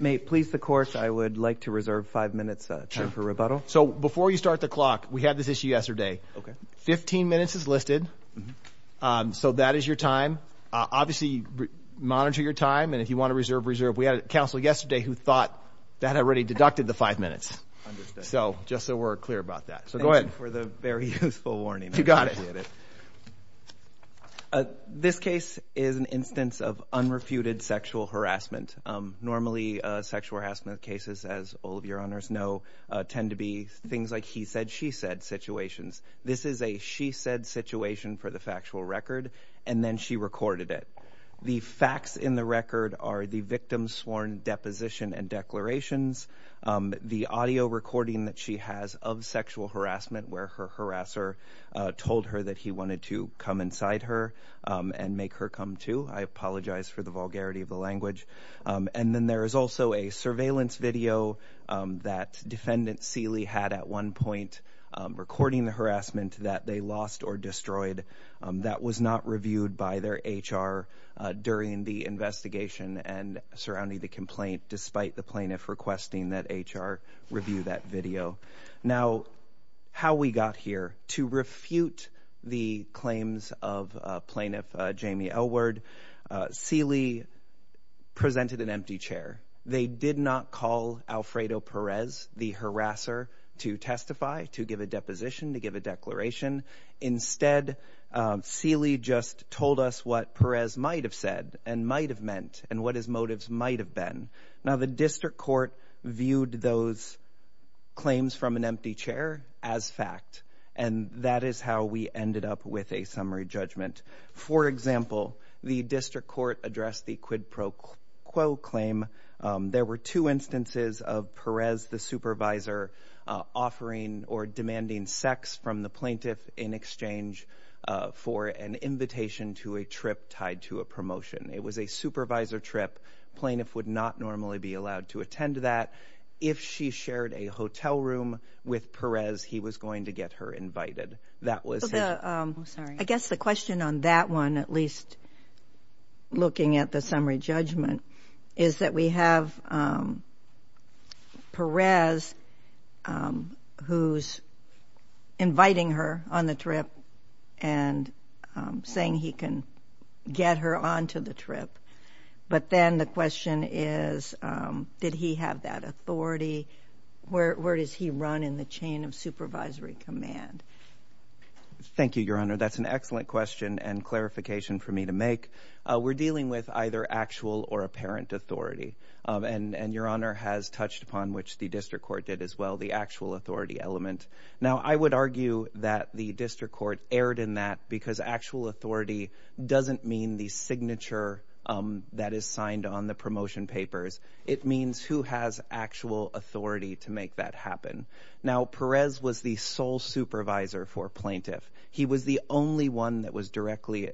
May it please the Court, I would like to reserve five minutes for rebuttal. So before you start the clock, we had this issue yesterday. Fifteen minutes is listed. So that is your time. Obviously monitor your time and if you want to reserve, reserve. We had a counsel yesterday who thought that had already deducted the five minutes. So just so we're clear about that. So go ahead. Thank you for the very useful warning. You got it. Appreciate it. This case is an instance of unrefuted sexual harassment. Normally sexual harassment cases, as all of your honors know, tend to be things like he said she said situations. This is a she said situation for the factual record and then she recorded it. The facts in the record are the victim's sworn deposition and declarations, the audio recording that she has of sexual harassment where her harasser told her that he wanted to come inside her and make her come too. I apologize for the vulgarity of the language. And then there is also a surveillance video that defendant Sealy had at one point recording the harassment that they lost or destroyed that was not reviewed by their HR during the investigation and surrounding the complaint despite the plaintiff requesting that HR review that video. Now how we got here to refute the claims of plaintiff Jamie Elwood, Sealy presented an empty chair. They did not call Alfredo Perez the harasser to testify, to give a deposition, to give a declaration. Instead Sealy just told us what Perez might have said and might have meant and what his motives might have been. Now the district court viewed those claims from an empty chair as fact and that is how we ended up with a summary judgment. For example, the district court addressed the quid pro quo claim. There were two instances of Perez the supervisor offering or demanding sex from the plaintiff in exchange for an invitation to a trip tied to a promotion. It was a supervisor trip. Plaintiff would not normally be allowed to attend that. If she shared a hotel room with Perez, he was going to get her invited. That was it. I'm sorry. I guess the question on that one, at least looking at the summary judgment, is that we have Perez who's inviting her on the trip and saying he can get her onto the trip. But then the question is, did he have that authority? Where does he run in the chain of supervisory command? Thank you, Your Honor. That's an excellent question and clarification for me to make. We're dealing with either actual or apparent authority. And Your Honor has touched upon, which the district court did as well, the actual authority element. Now I would argue that the district court erred in that because actual authority doesn't mean the signature that is signed on the promotion papers. It means who has actual authority to make that happen. Now Perez was the sole supervisor for plaintiff. He was the only one that was directly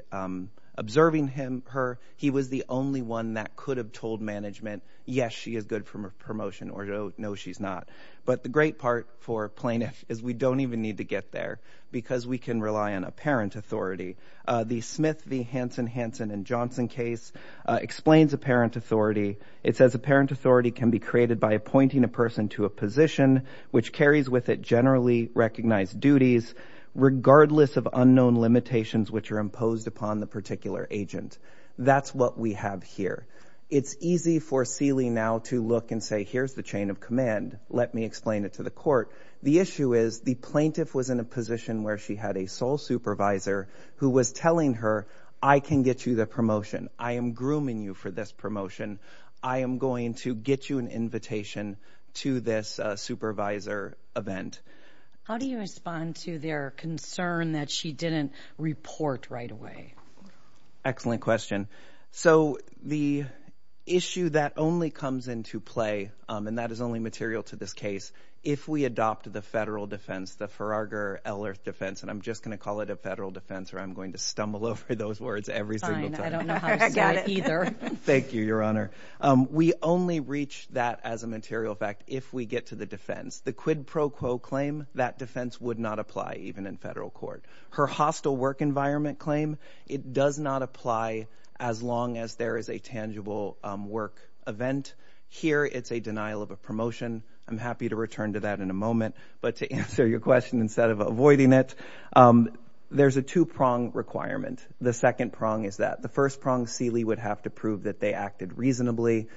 observing her. He was the only one that could have told management, yes, she is good for promotion or no, she's not. But the great part for plaintiff is we don't even need to get there because we can rely on apparent authority. The Smith v. Hansen, Hansen and Johnson case explains apparent authority. It says apparent authority can be created by appointing a person to a position which carries with it generally recognized duties regardless of unknown limitations which are imposed upon the particular agent. That's what we have here. It's easy for Seeley now to look and say, here's the chain of command. Let me explain it to the court. The issue is the plaintiff was in a position where she had a sole supervisor who was telling her I can get you the promotion. I am grooming you for this promotion. I am going to get you an invitation to this supervisor event. How do you respond to their concern that she didn't report right away? Excellent question. So the issue that only comes into play, and that is only material to this case, if we adopt the federal defense, the Ferarger-Ellert defense, and I'm just going to call it a federal defense or I'm going to stumble over those words every single time. Fine. I don't know how to spell it either. Thank you, Your Honor. We only reach that as a material fact if we get to the defense. The quid pro quo claim, that defense would not apply even in federal court. Her hostile work environment claim, it does not apply as long as there is a tangible work event. Here, it's a denial of a promotion. I'm happy to return to that in a moment. But to answer your question instead of avoiding it, there's a two-prong requirement. The second prong is that. The first prong, Seeley would have to prove that they acted reasonably.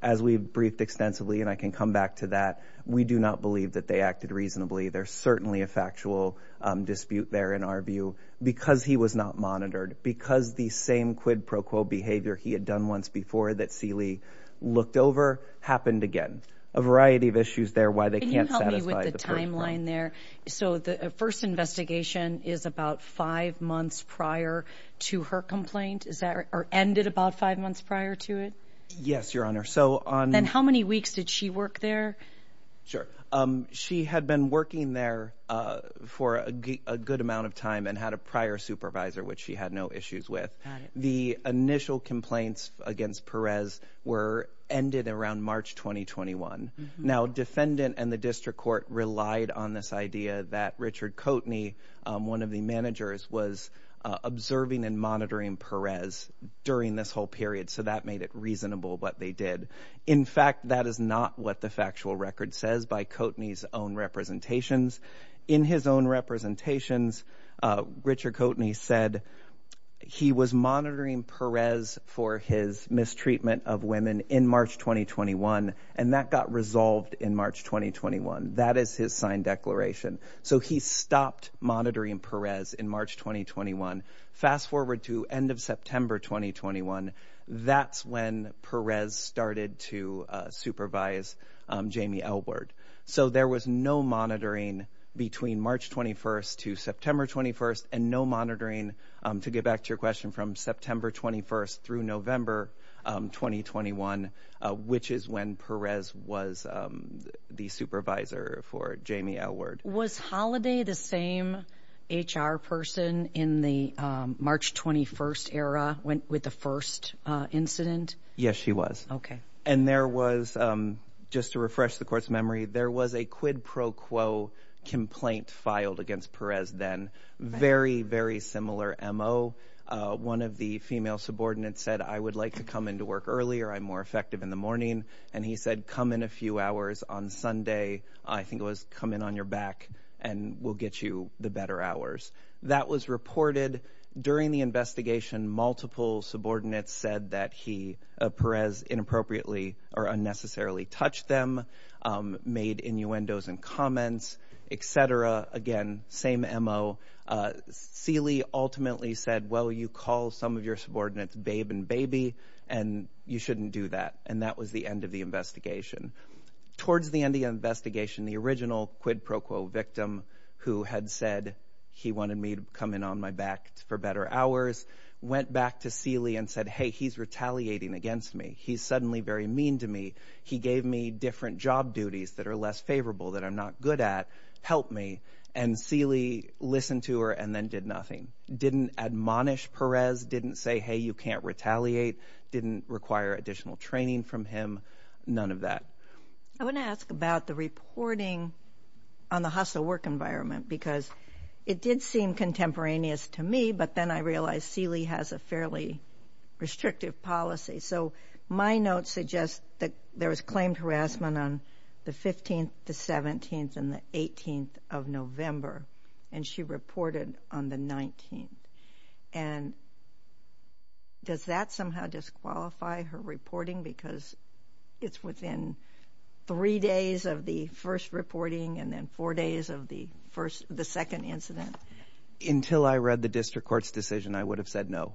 As we've briefed extensively, and I can come back to that, we do not believe that they acted reasonably. There's certainly a factual dispute there, in our view, because he was not monitored. Because the same quid pro quo behavior he had done once before that Seeley looked over happened again. A variety of issues there why they can't satisfy the first prong. Can you help me with the timeline there? So the first investigation is about five months prior to her complaint, is that, or ended about five months prior to it? Yes, Your Honor. So on- Then how many weeks did she work there? Sure. She had been working there for a good amount of time and had a prior supervisor, which she had no issues with. The initial complaints against Perez were ended around March 2021. Now defendant and the district court relied on this idea that Richard Coteney, one of the managers, was observing and monitoring Perez during this whole period. So that made it reasonable what they did. In fact, that is not what the factual record says by Coteney's own representations. In his own representations, Richard Coteney said he was monitoring Perez for his mistreatment of women in March 2021, and that got resolved in March 2021. That is his signed declaration. So he stopped monitoring Perez in March 2021. Fast forward to end of September 2021, that's when Perez started to supervise Jamie Elwood. So there was no monitoring between March 21st to September 21st, and no monitoring, to get back to your question, from September 21st through November 2021, which is when Perez was the supervisor for Jamie Elwood. Was Holiday the same HR person in the March 21st era, with the first incident? Yes, she was. And there was, just to refresh the court's memory, there was a quid pro quo complaint filed against Perez then, very, very similar MO. One of the female subordinates said, I would like to come into work earlier, I'm more effective in the morning. And he said, come in a few hours on Sunday, I think it was, come in on your back and we'll get you the better hours. That was reported. During the investigation, multiple subordinates said that he, Perez, inappropriately or unnecessarily touched them, made innuendos and comments, et cetera. Again, same MO. Seeley ultimately said, well, you call some of your subordinates babe and baby, and you shouldn't do that. And that was the end of the investigation. Towards the end of the investigation, the original quid pro quo victim, who had said he wanted me to come in on my back for better hours, went back to Seeley and said, hey, he's retaliating against me. He's suddenly very mean to me. He gave me different job duties that are less favorable, that I'm not good at. Help me. And Seeley listened to her and then did nothing. Didn't admonish Perez, didn't say, hey, you can't retaliate. Didn't require additional training from him. None of that. I want to ask about the reporting on the hustle work environment, because it did seem contemporaneous to me. But then I realized Seeley has a fairly restrictive policy. So my notes suggest that there was claimed harassment on the 15th, the 17th and the 18th of November. And she reported on the 19th. And does that somehow disqualify her reporting? Because it's within three days of the first reporting and then four days of the first, the second incident. Until I read the district court's decision, I would have said no.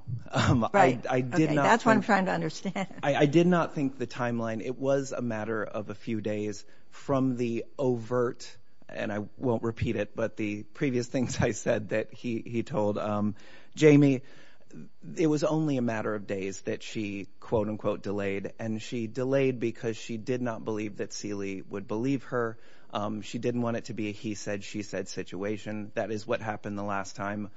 Right. I did not. That's what I'm trying to understand. I did not think the timeline, it was a matter of a few days from the overt, and I won't It was only a matter of days that she, quote unquote, delayed. And she delayed because she did not believe that Seeley would believe her. She didn't want it to be a he said, she said situation. That is what happened the last time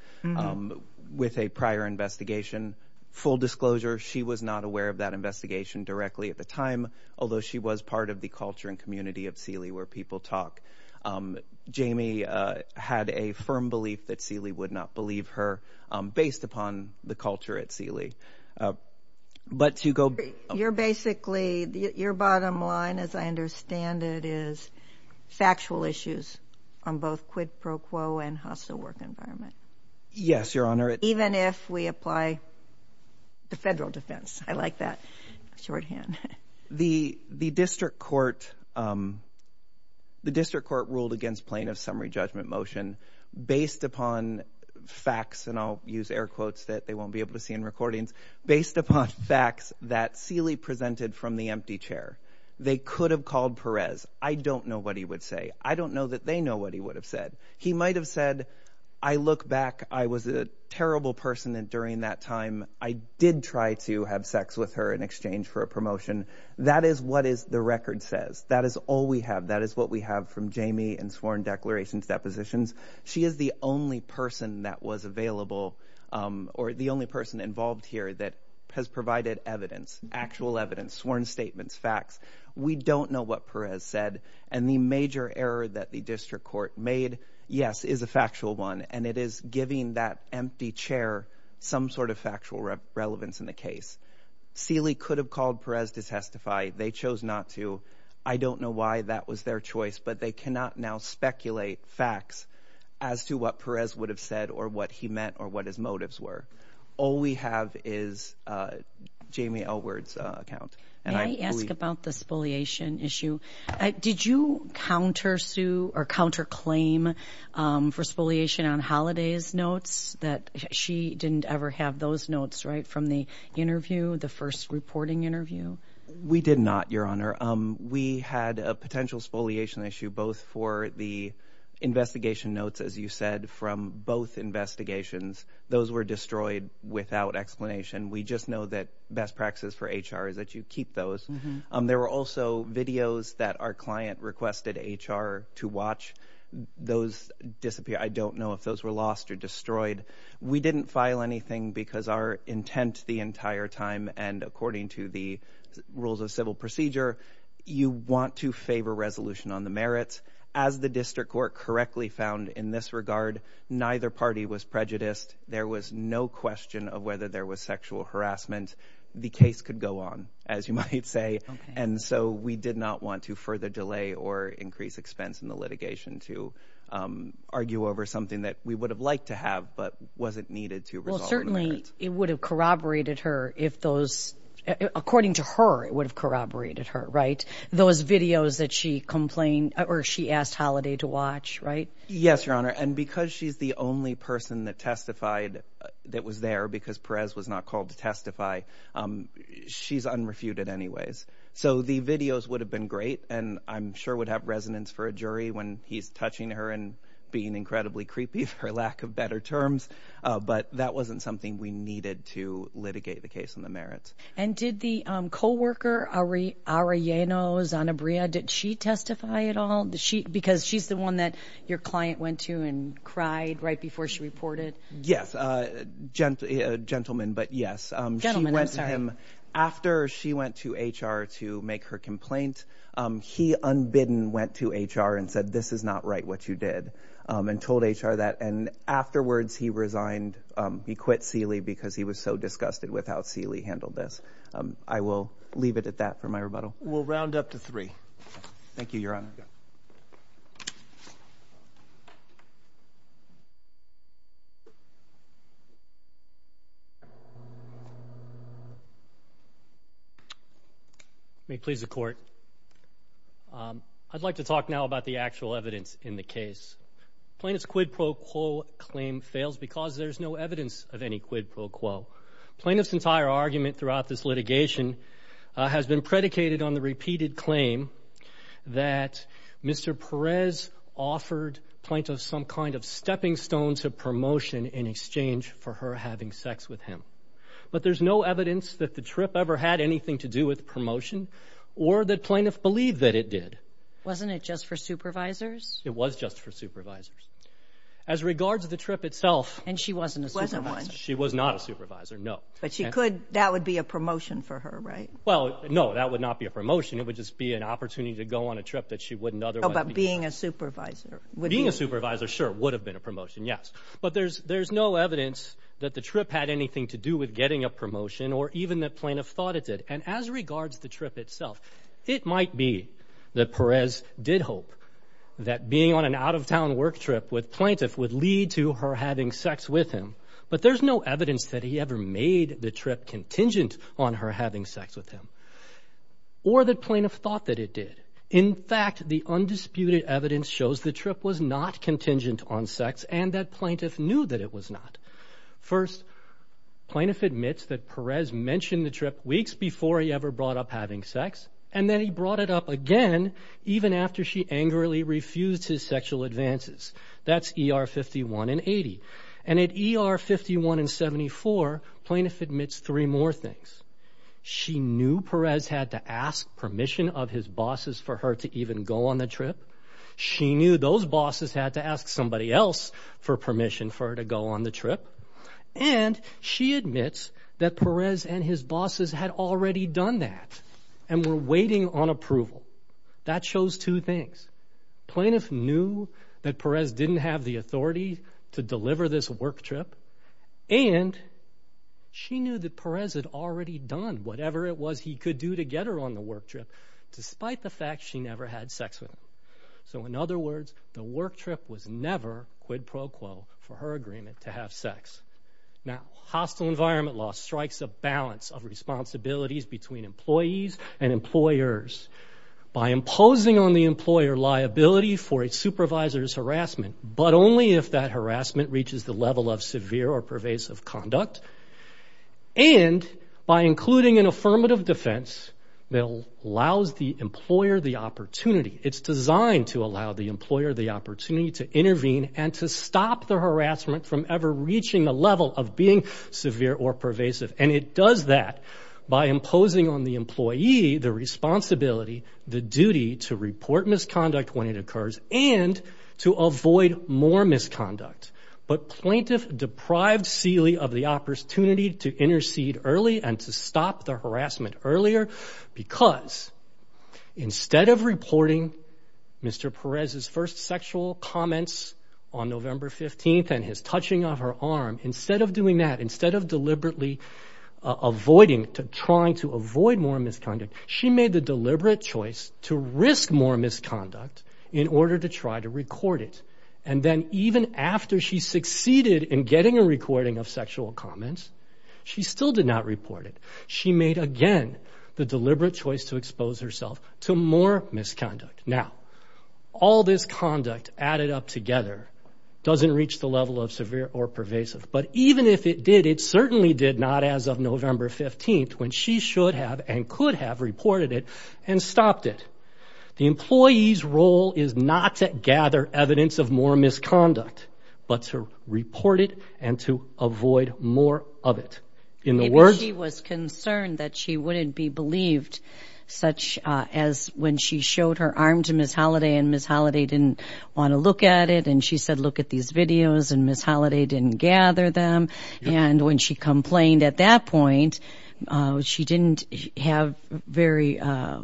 with a prior investigation. Full disclosure, she was not aware of that investigation directly at the time, although she was part of the culture and community of Seeley where people talk. Jamie had a firm belief that Seeley would not believe her based upon the culture at But to go. You're basically your bottom line, as I understand it, is factual issues on both quid pro quo and hostile work environment. Yes, Your Honor. Even if we apply the federal defense. I like that shorthand. The the district court. The district court ruled against plaintiff summary judgment motion based upon facts and I'll use air quotes that they won't be able to see in recordings based upon facts that Seeley presented from the empty chair. They could have called Perez. I don't know what he would say. I don't know that they know what he would have said. He might have said, I look back. I was a terrible person. And during that time, I did try to have sex with her in exchange for a promotion. That is what is the record says. That is all we have. That is what we have from Jamie and sworn declarations, depositions. She is the only person that was available or the only person involved here that has provided evidence, actual evidence, sworn statements, facts. We don't know what Perez said. And the major error that the district court made, yes, is a factual one. And it is giving that empty chair some sort of factual relevance in the case. Seeley could have called Perez to testify. They chose not to. I don't know why that was their choice, but they cannot now speculate facts as to what Perez would have said or what he meant or what his motives were. All we have is Jamie Elwood's account. And I ask about the spoliation issue. Did you counter sue or counter claim for spoliation on holidays notes that she didn't ever have those notes, right, from the interview, the first reporting interview? We did not, Your Honor. We had a potential spoliation issue both for the investigation notes, as you said, from both investigations. Those were destroyed without explanation. We just know that best practices for HR is that you keep those. There were also videos that our client requested HR to watch. Those disappeared. I don't know if those were lost or destroyed. We didn't file anything because our intent the entire time and according to the rules of civil procedure, you want to favor resolution on the merits. As the district court correctly found in this regard, neither party was prejudiced. There was no question of whether there was sexual harassment. The case could go on, as you might say. And so we did not want to further delay or increase expense in the litigation to argue over something that we would have liked to have, but wasn't needed to resolve. Well, certainly it would have corroborated her if those, according to her, it would have corroborated her, right? Those videos that she complained or she asked Holiday to watch, right? Yes, Your Honor. And because she's the only person that testified that was there because Perez was not called to testify, she's unrefuted anyways. So the videos would have been great and I'm sure would have resonance for a jury when he's touching her and being incredibly creepy for lack of better terms. But that wasn't something we needed to litigate the case on the merits. And did the co-worker Arianna Zanabria, did she testify at all? Because she's the one that your client went to and cried right before she reported? Yes, a gentleman, but yes. After she went to HR to make her complaint, he unbidden went to HR and said, this is not right what you did and told HR that. And afterwards he resigned, he quit Sealy because he was so disgusted with how Sealy handled this. I will leave it at that for my rebuttal. We'll round up to three. Thank you, Your Honor. May it please the court. I'd like to talk now about the actual evidence in the case. Plaintiff's quid pro quo claim fails because there's no evidence of any quid pro quo. Plaintiff's entire argument throughout this litigation has been predicated on the repeated claim that Mr. Perez offered plaintiff some kind of stepping stone to promotion in exchange for her having sex with him. But there's no evidence that the trip ever had anything to do with promotion or that plaintiff believed that it did. Wasn't it just for supervisors? It was just for supervisors. As regards to the trip itself. And she wasn't a supervisor? She was not a supervisor, no. But she could, that would be a promotion for her, right? Well, no, that would not be a promotion. It would just be an opportunity to go on a trip that she wouldn't otherwise be. Oh, but being a supervisor? Being a supervisor, sure, would have been a promotion, yes. But there's no evidence that the trip had anything to do with getting a promotion or even that plaintiff thought it did. And as regards the trip itself, it might be that Perez did hope that being on an out-of-town work trip with plaintiff would lead to her having sex with him. But there's no evidence that he ever made the trip contingent on her having sex with him or that plaintiff thought that it did. In fact, the undisputed evidence shows the trip was not contingent on sex and that plaintiff knew that it was not. First, plaintiff admits that Perez mentioned the trip weeks before he ever brought up having sex and then he brought it up again even after she angrily refused his sexual advances. That's ER 51 and 80. And at ER 51 and 74, plaintiff admits three more things. She knew Perez had to ask permission of his bosses for her to even go on the trip. She knew those bosses had to ask somebody else for permission for her to go on the trip. And she admits that Perez and his bosses had already done that and were waiting on approval. That shows two things. Plaintiff knew that Perez didn't have the authority to deliver this work trip and she knew that Perez had already done whatever it was he could do to get her on the work trip despite the fact she never had sex with him. So in other words, the work trip was never quid pro quo for her agreement to have sex. Now, hostile environment law strikes a balance of responsibilities between employees and By imposing on the employer liability for a supervisor's harassment, but only if that reaches the level of severe or pervasive conduct. And by including an affirmative defense that allows the employer the opportunity. It's designed to allow the employer the opportunity to intervene and to stop the harassment from ever reaching a level of being severe or pervasive. And it does that by imposing on the employee the responsibility, the duty to report misconduct when it occurs and to avoid more misconduct. But plaintiff deprived Seeley of the opportunity to intercede early and to stop the harassment earlier, because instead of reporting Mr. Perez's first sexual comments on November 15th and his touching of her arm, instead of doing that, instead of deliberately avoiding to trying to avoid more misconduct, she made the deliberate choice to risk more misconduct in order to try to record it. And then even after she succeeded in getting a recording of sexual comments, she still did not report it. She made again the deliberate choice to expose herself to more misconduct. Now, all this conduct added up together doesn't reach the level of severe or pervasive. But even if it did, it certainly did not as of November 15th, when she should have and could have reported it and stopped it. The employee's role is not to gather evidence of more misconduct, but to report it and to avoid more of it. In the words... If she was concerned that she wouldn't be believed, such as when she showed her arm to Ms. Holliday and Ms. Holliday didn't want to look at it, and she said, look at these videos, and Ms. Holliday didn't gather them, and when she complained at that point, she didn't have very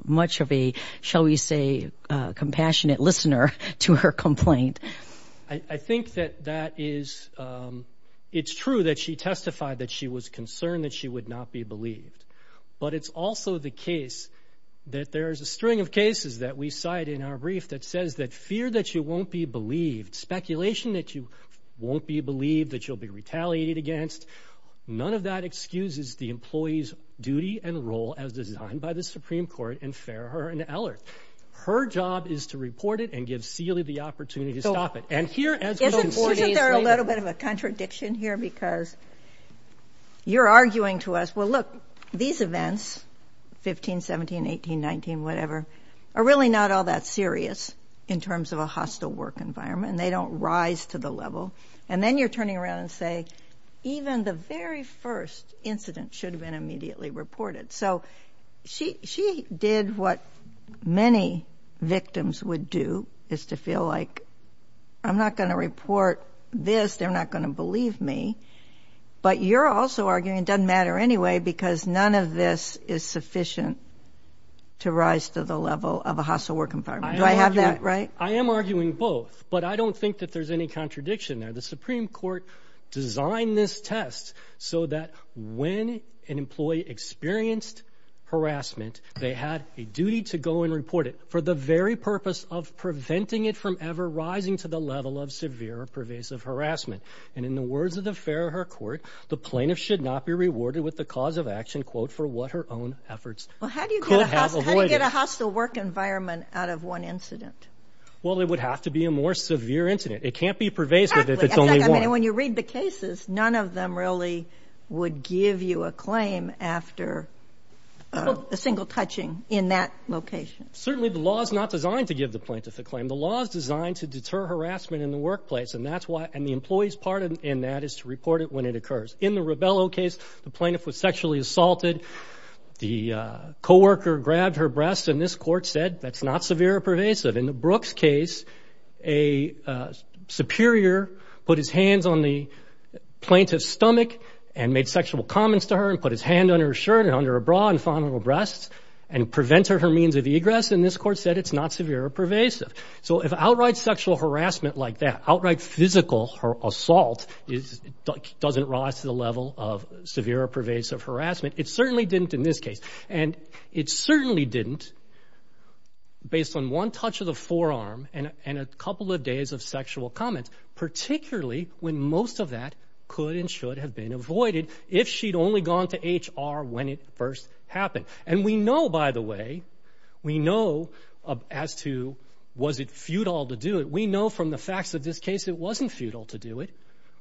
much of a, shall we say, compassionate listener to her complaint. I think that that is... It's true that she testified that she was concerned that she would not be believed. But it's also the case that there's a string of cases that we cite in our brief that says that fear that you won't be believed, speculation that you won't be believed, that you'll be retaliated against, none of that excuses the employee's duty and role as designed by the Supreme Court in Farrer and Eller. Her job is to report it and give Seeley the opportunity to stop it. And here... Isn't there a little bit of a contradiction here? Because you're arguing to us, well look, these events, 15, 17, 18, 19, whatever, are really not all that serious in terms of a hostile work environment, and they don't rise to the level. And then you're turning around and say, even the very first incident should have been immediately reported. So, she did what many victims would do, is to feel like, I'm not going to report this, they're not going to believe me. But you're also arguing it doesn't matter anyway because none of this is sufficient to rise to the level of a hostile work environment. Do I have that right? I am arguing both, but I don't think that there's any contradiction there. The Supreme Court designed this test so that when an employee experienced harassment, they had a duty to go and report it for the very purpose of preventing it from ever rising to the level of severe or pervasive harassment. And in the words of the Farrer court, the plaintiff should not be rewarded with the cause of action, quote, for what her own efforts could have avoided. Well, how do you get a hostile work environment out of one incident? Well, it would have to be a more severe incident. It can't be pervasive if it's only one. I mean, when you read the cases, none of them really would give you a claim after a single touching in that location. Certainly the law is not designed to give the plaintiff a claim. The law is designed to deter harassment in the workplace, and that's why, and the employee's part in that is to report it when it occurs. In the Rebello case, the plaintiff was sexually assaulted. The coworker grabbed her breasts, and this court said that's not severe or pervasive. In the Brooks case, a superior put his hands on the plaintiff's stomach and made sexual comments to her and put his hand on her shirt and under a bra and found her breasts and prevented her means of egress, and this court said it's not severe or pervasive. So if outright sexual harassment like that, outright physical assault doesn't rise to the level of severe or pervasive harassment, it certainly didn't in this case, and it certainly didn't based on one touch of the forearm and a couple of days of sexual comments, particularly when most of that could and should have been avoided if she'd only gone to HR when it first happened. And we know, by the way, we know as to was it futile to do it. We know from the facts of this case it wasn't futile to do it.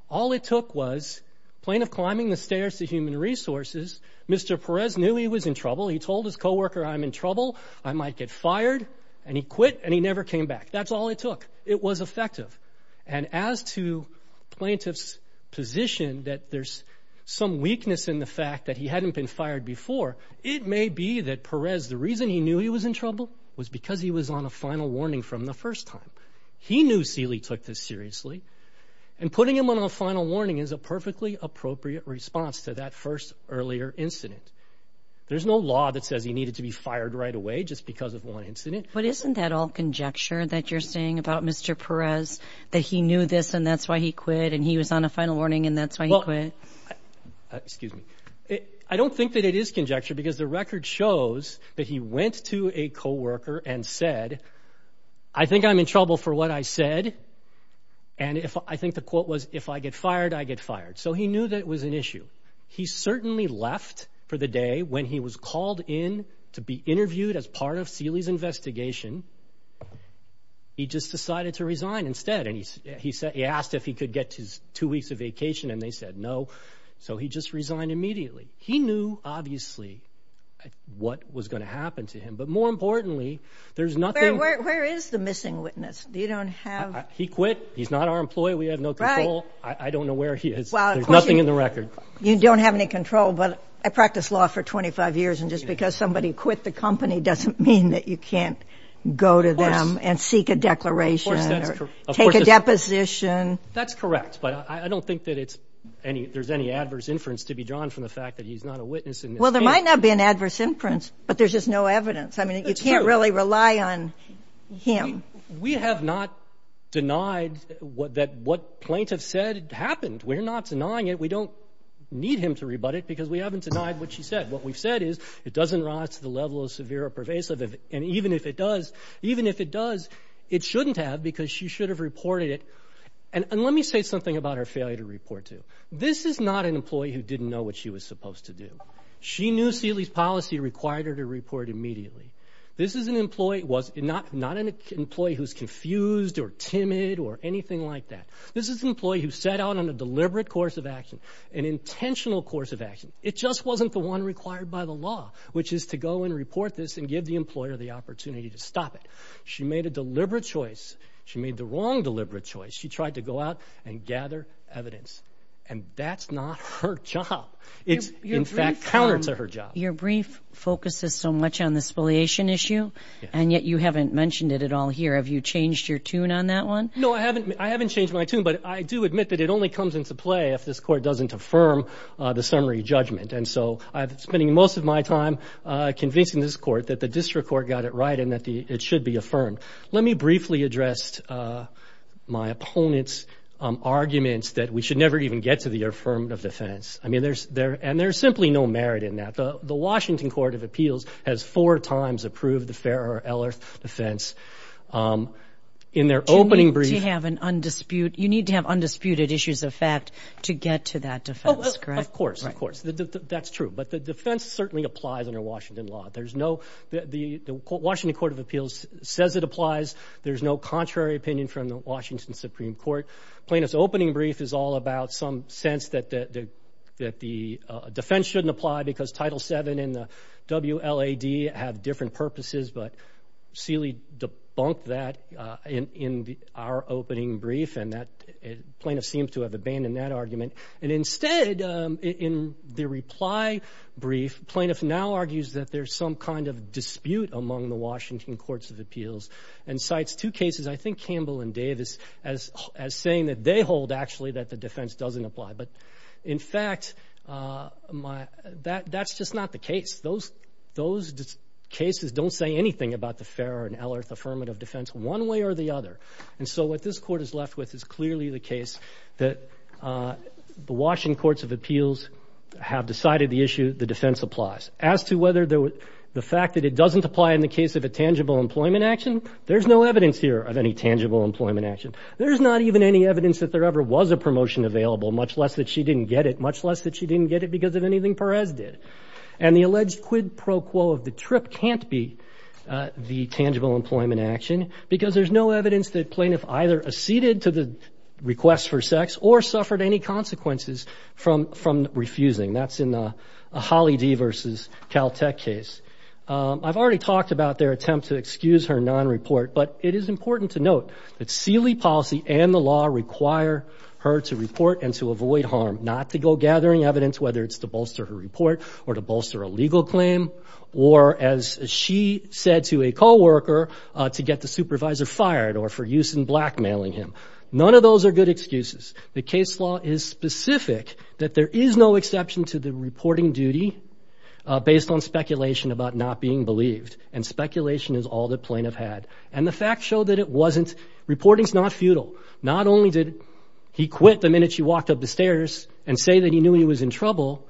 All it took was plaintiff climbing the stairs to Human Resources, Mr. Perez knew he was in trouble. He told his coworker, I'm in trouble, I might get fired, and he quit and he never came back. That's all it took. It was effective. And as to plaintiff's position that there's some weakness in the fact that he hadn't been fired before, it may be that Perez, the reason he knew he was in trouble was because he was on a final warning from the first time. He knew Celie took this seriously, and putting him on a final warning is a perfectly appropriate response to that first earlier incident. There's no law that says he needed to be fired right away just because of one incident. But isn't that all conjecture that you're saying about Mr. Perez, that he knew this and that's why he quit and he was on a final warning and that's why he quit? Excuse me. I don't think that it is conjecture because the record shows that he went to a coworker and said, I think I'm in trouble for what I said. And I think the quote was, if I get fired, I get fired. So he knew that it was an issue. He certainly left for the day when he was called in to be interviewed as part of Celie's investigation. He just decided to resign instead. He asked if he could get his two weeks of vacation, and they said no. So he just resigned immediately. He knew, obviously, what was going to happen to him. But more importantly, there's nothing... Where is the missing witness? You don't have... He quit. He's not our employee. We have no control. I don't know where he is. There's nothing in the record. You don't have any control, but I practiced law for 25 years, and just because somebody quit the company doesn't mean that you can't go to them and seek a declaration or take a deposition. That's correct. But I don't think that it's any... There's any adverse inference to be drawn from the fact that he's not a witness in this Well, there might not be an adverse inference, but there's just no evidence. That's true. I mean, you can't really rely on him. We have not denied that what plaintiff said happened. We're not denying it. We don't need him to rebut it because we haven't denied what she said. What we've said is it doesn't rise to the level of severe or pervasive. And even if it does, it shouldn't have because she should have reported it. And let me say something about her failure to report to. This is not an employee who didn't know what she was supposed to do. She knew Sealy's policy required her to report immediately. This is an employee who's not confused or timid or anything like that. This is an employee who set out on a deliberate course of action, an intentional course of It just wasn't the one required by the law, which is to go and report this and give the employer the opportunity to stop it. She made a deliberate choice. She made the wrong deliberate choice. She tried to go out and gather evidence. And that's not her job. It's in fact counter to her job. Your brief focuses so much on the spoliation issue, and yet you haven't mentioned it at all here. Have you changed your tune on that one? No, I haven't. I haven't changed my tune, but I do admit that it only comes into play if this court doesn't affirm the summary judgment. And so I've been spending most of my time convincing this court that the district court got it right and that it should be affirmed. Let me briefly address my opponent's arguments that we should never even get to the affirmative defense. I mean, there's there and there's simply no merit in that. The Washington Court of Appeals has four times approved the Farrer-Ellert defense. In their opening brief, You need to have an undisputed, you need to have undisputed issues of fact to get to that defense, correct? Of course. Of course. Of course. That's true. But the defense certainly applies under Washington law. There's no, the Washington Court of Appeals says it applies. There's no contrary opinion from the Washington Supreme Court. Plaintiff's opening brief is all about some sense that the defense shouldn't apply because Title VII and the WLAD have different purposes. But Seeley debunked that in our opening brief, and that plaintiff seems to have abandoned that argument. And instead, in the reply brief, plaintiff now argues that there's some kind of dispute among the Washington Courts of Appeals and cites two cases, I think Campbell and Davis, as saying that they hold actually that the defense doesn't apply. But in fact, that's just not the case. Those cases don't say anything about the Farrer and Ellert affirmative defense one way or the other. And so what this court is left with is clearly the case that the Washington Courts of Appeals have decided the issue, the defense applies. As to whether the fact that it doesn't apply in the case of a tangible employment action, there's no evidence here of any tangible employment action. There's not even any evidence that there ever was a promotion available, much less that she didn't get it, much less that she didn't get it because of anything Perez did. And the alleged quid pro quo of the trip can't be the tangible employment action because there's no evidence that plaintiff either acceded to the request for sex or suffered any consequences from refusing. That's in the Holly D. versus Caltech case. I've already talked about their attempt to excuse her non-report, but it is important to note that Sealy policy and the law require her to report and to avoid harm, not to go gathering evidence, whether it's to bolster her report or to bolster a legal claim, or as she said to a coworker, to get the supervisor fired or for use in blackmailing him. None of those are good excuses. The case law is specific that there is no exception to the reporting duty based on speculation about not being believed. And speculation is all the plaintiff had. And the facts show that it wasn't, reporting's not futile. Not only did he quit the minute she walked up the stairs and say that he knew he was in trouble,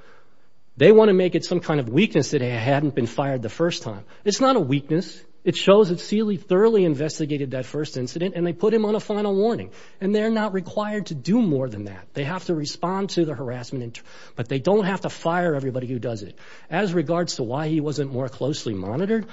they want to make it some kind of weakness that he hadn't been fired the first time. It's not a weakness. It shows that Sealy thoroughly investigated that first incident, and they put him on a final warning. And they're not required to do more than that. They have to respond to the harassment, but they don't have to fire everybody who does it. As regards to why he wasn't more closely monitored,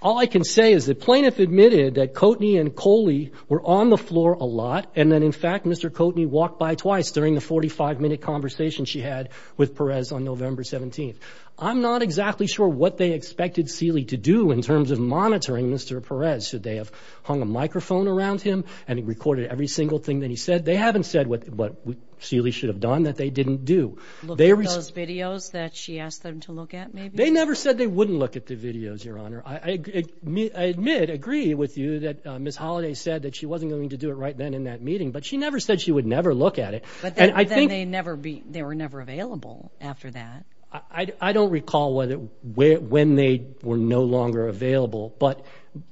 all I can say is the plaintiff admitted that Coatney and Coley were on the floor a lot, and that, in fact, Mr. Coatney walked by twice during the 45-minute conversation she had with Perez on November 17th. I'm not exactly sure what they expected Sealy to do in terms of monitoring Mr. Perez. Should they have hung a microphone around him and recorded every single thing that he said? They haven't said what Sealy should have done that they didn't do. Looked at those videos that she asked them to look at, maybe? They never said they wouldn't look at the videos, Your Honor. I admit, agree with you that Ms. Holliday said that she wasn't going to do it right then in that meeting, but she never said she would never look at it. But then they were never available after that. I don't recall when they were no longer available, but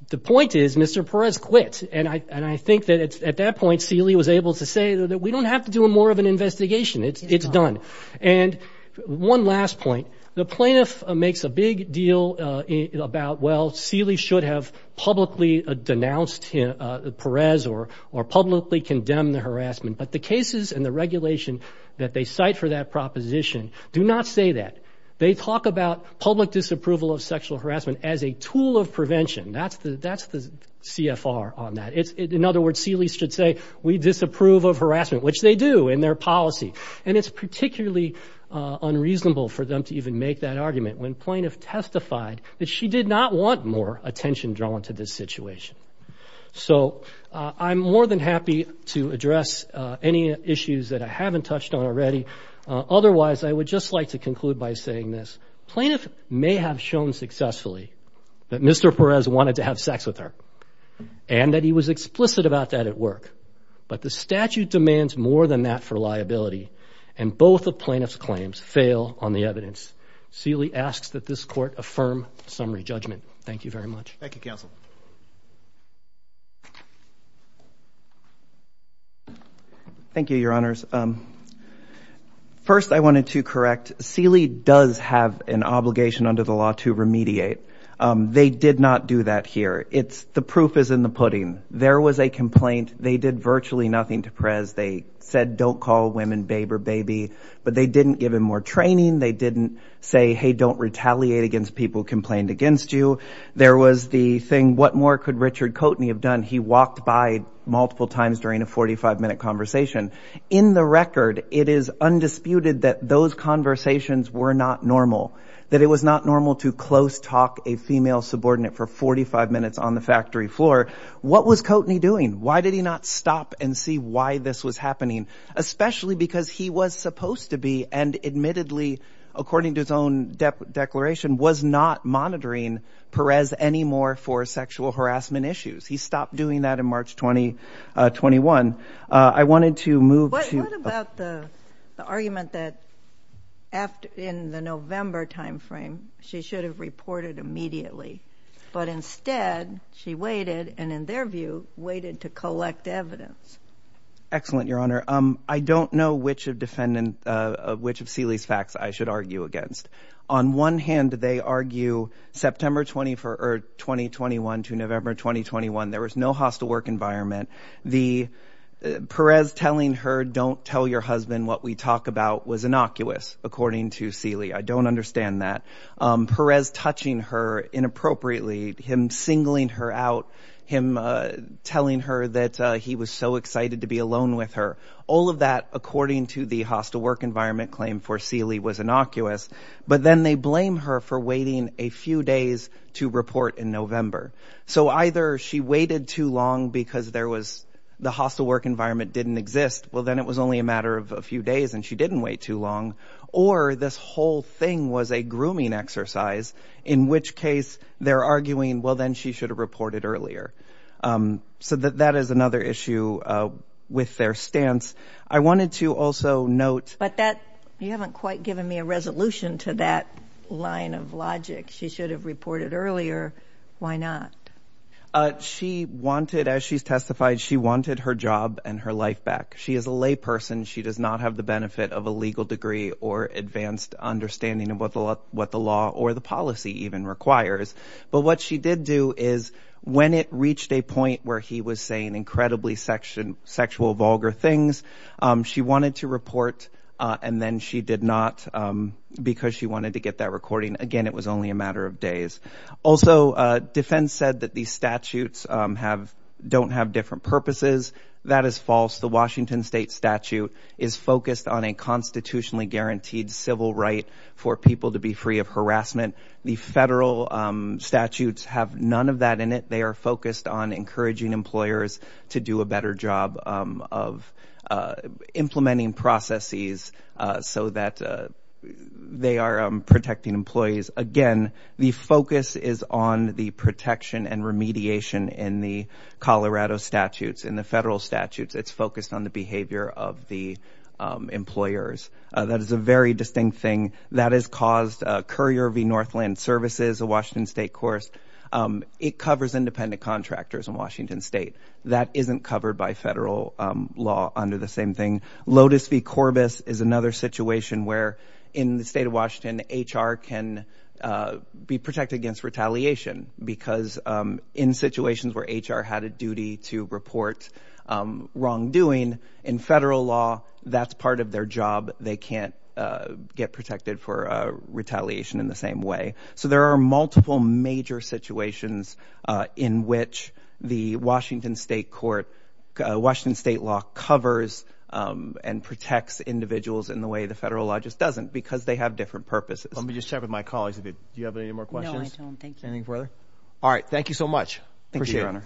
the point is Mr. Perez quit, and I think that at that point, Sealy was able to say that we don't have to do more of an investigation. It's done. And one last point. The plaintiff makes a big deal about, well, Sealy should have publicly denounced Perez or publicly condemned the harassment, but the cases and the regulation that they cite for that proposition do not say that. They talk about public disapproval of sexual harassment as a tool of prevention. That's the CFR on that. In other words, Sealy should say, we disapprove of harassment, which they do in their policy. And it's particularly unreasonable for them to even make that argument when plaintiff testified that she did not want more attention drawn to this situation. So I'm more than happy to address any issues that I haven't touched on already. Otherwise, I would just like to conclude by saying this. Plaintiff may have shown successfully that Mr. Perez wanted to have sex with her and that he was explicit about that at work, but the statute demands more than that for liability, and both of plaintiff's claims fail on the evidence. Sealy asks that this court affirm summary judgment. Thank you very much. Thank you, counsel. Thank you, your honors. First I wanted to correct. Sealy does have an obligation under the law to remediate. They did not do that here. The proof is in the pudding. There was a complaint. They did virtually nothing to Perez. They said, don't call women babe or baby, but they didn't give him more training. They didn't say, hey, don't retaliate against people who complained against you. There was the thing, what more could Richard Coatney have done? He walked by multiple times during a 45-minute conversation. In the record, it is undisputed that those conversations were not normal, that it was not normal to close talk a female subordinate for 45 minutes on the factory floor. What was Coatney doing? Why did he not stop and see why this was happening, especially because he was supposed to be, and admittedly, according to his own declaration, was not monitoring Perez anymore for sexual harassment issues. He stopped doing that in March 2021. I wanted to move to- What about the argument that in the November time frame, she should have reported immediately, but instead she waited, and in their view, waited to collect evidence? Excellent, your honor. I don't know which of Celi's facts I should argue against. On one hand, they argue September 2021 to November 2021, there was no hostile work environment. Perez telling her, don't tell your husband what we talk about was innocuous, according to Celi. I don't understand that. Perez touching her inappropriately, him singling her out, him telling her that he was so excited to be alone with her, all of that, according to the hostile work environment claim for Celi was innocuous. But then they blame her for waiting a few days to report in November. So either she waited too long because there was the hostile work environment didn't exist. Well, then it was only a matter of a few days and she didn't wait too long. Or this whole thing was a grooming exercise, in which case they're arguing, well, then she should have reported earlier. So that is another issue with their stance. I wanted to also note. But that you haven't quite given me a resolution to that line of logic. She should have reported earlier. Why not? She wanted, as she's testified, she wanted her job and her life back. She is a lay person. She does not have the benefit of a legal degree or advanced understanding of what the law or the policy even requires. But what she did do is when it reached a point where he was saying incredibly section sexual vulgar things, she wanted to report. And then she did not because she wanted to get that recording again. It was only a matter of days. Also, defense said that these statutes have don't have different purposes. That is false. The Washington state statute is focused on a constitutionally guaranteed civil right for people to be free of harassment. The federal statutes have none of that in it. They are focused on encouraging employers to do a better job of implementing processes so that they are protecting employees. Again, the focus is on the protection and remediation in the Colorado statutes. In the federal statutes, it's focused on the behavior of the employers. That is a very distinct thing. That has caused Courier v. Northland Services, a Washington state course. It covers independent contractors in Washington state. That isn't covered by federal law under the same thing. Lotus v. Corbis is another situation where in the state of Washington, HR can be protected against retaliation. Because in situations where HR had a duty to report wrongdoing, in federal law, that's part of their job. They can't get protected for retaliation in the same way. So there are multiple major situations in which the Washington state court, Washington state law, covers and protects individuals in the way the federal law just doesn't because they have different purposes. Let me just check with my colleagues. Do you have any more questions? No, I don't. Thank you. Anything further? All right. Thank you so much. Thank you, Your Honor.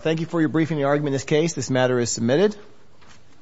Thank you for your briefing the argument in this case. This matter is submitted.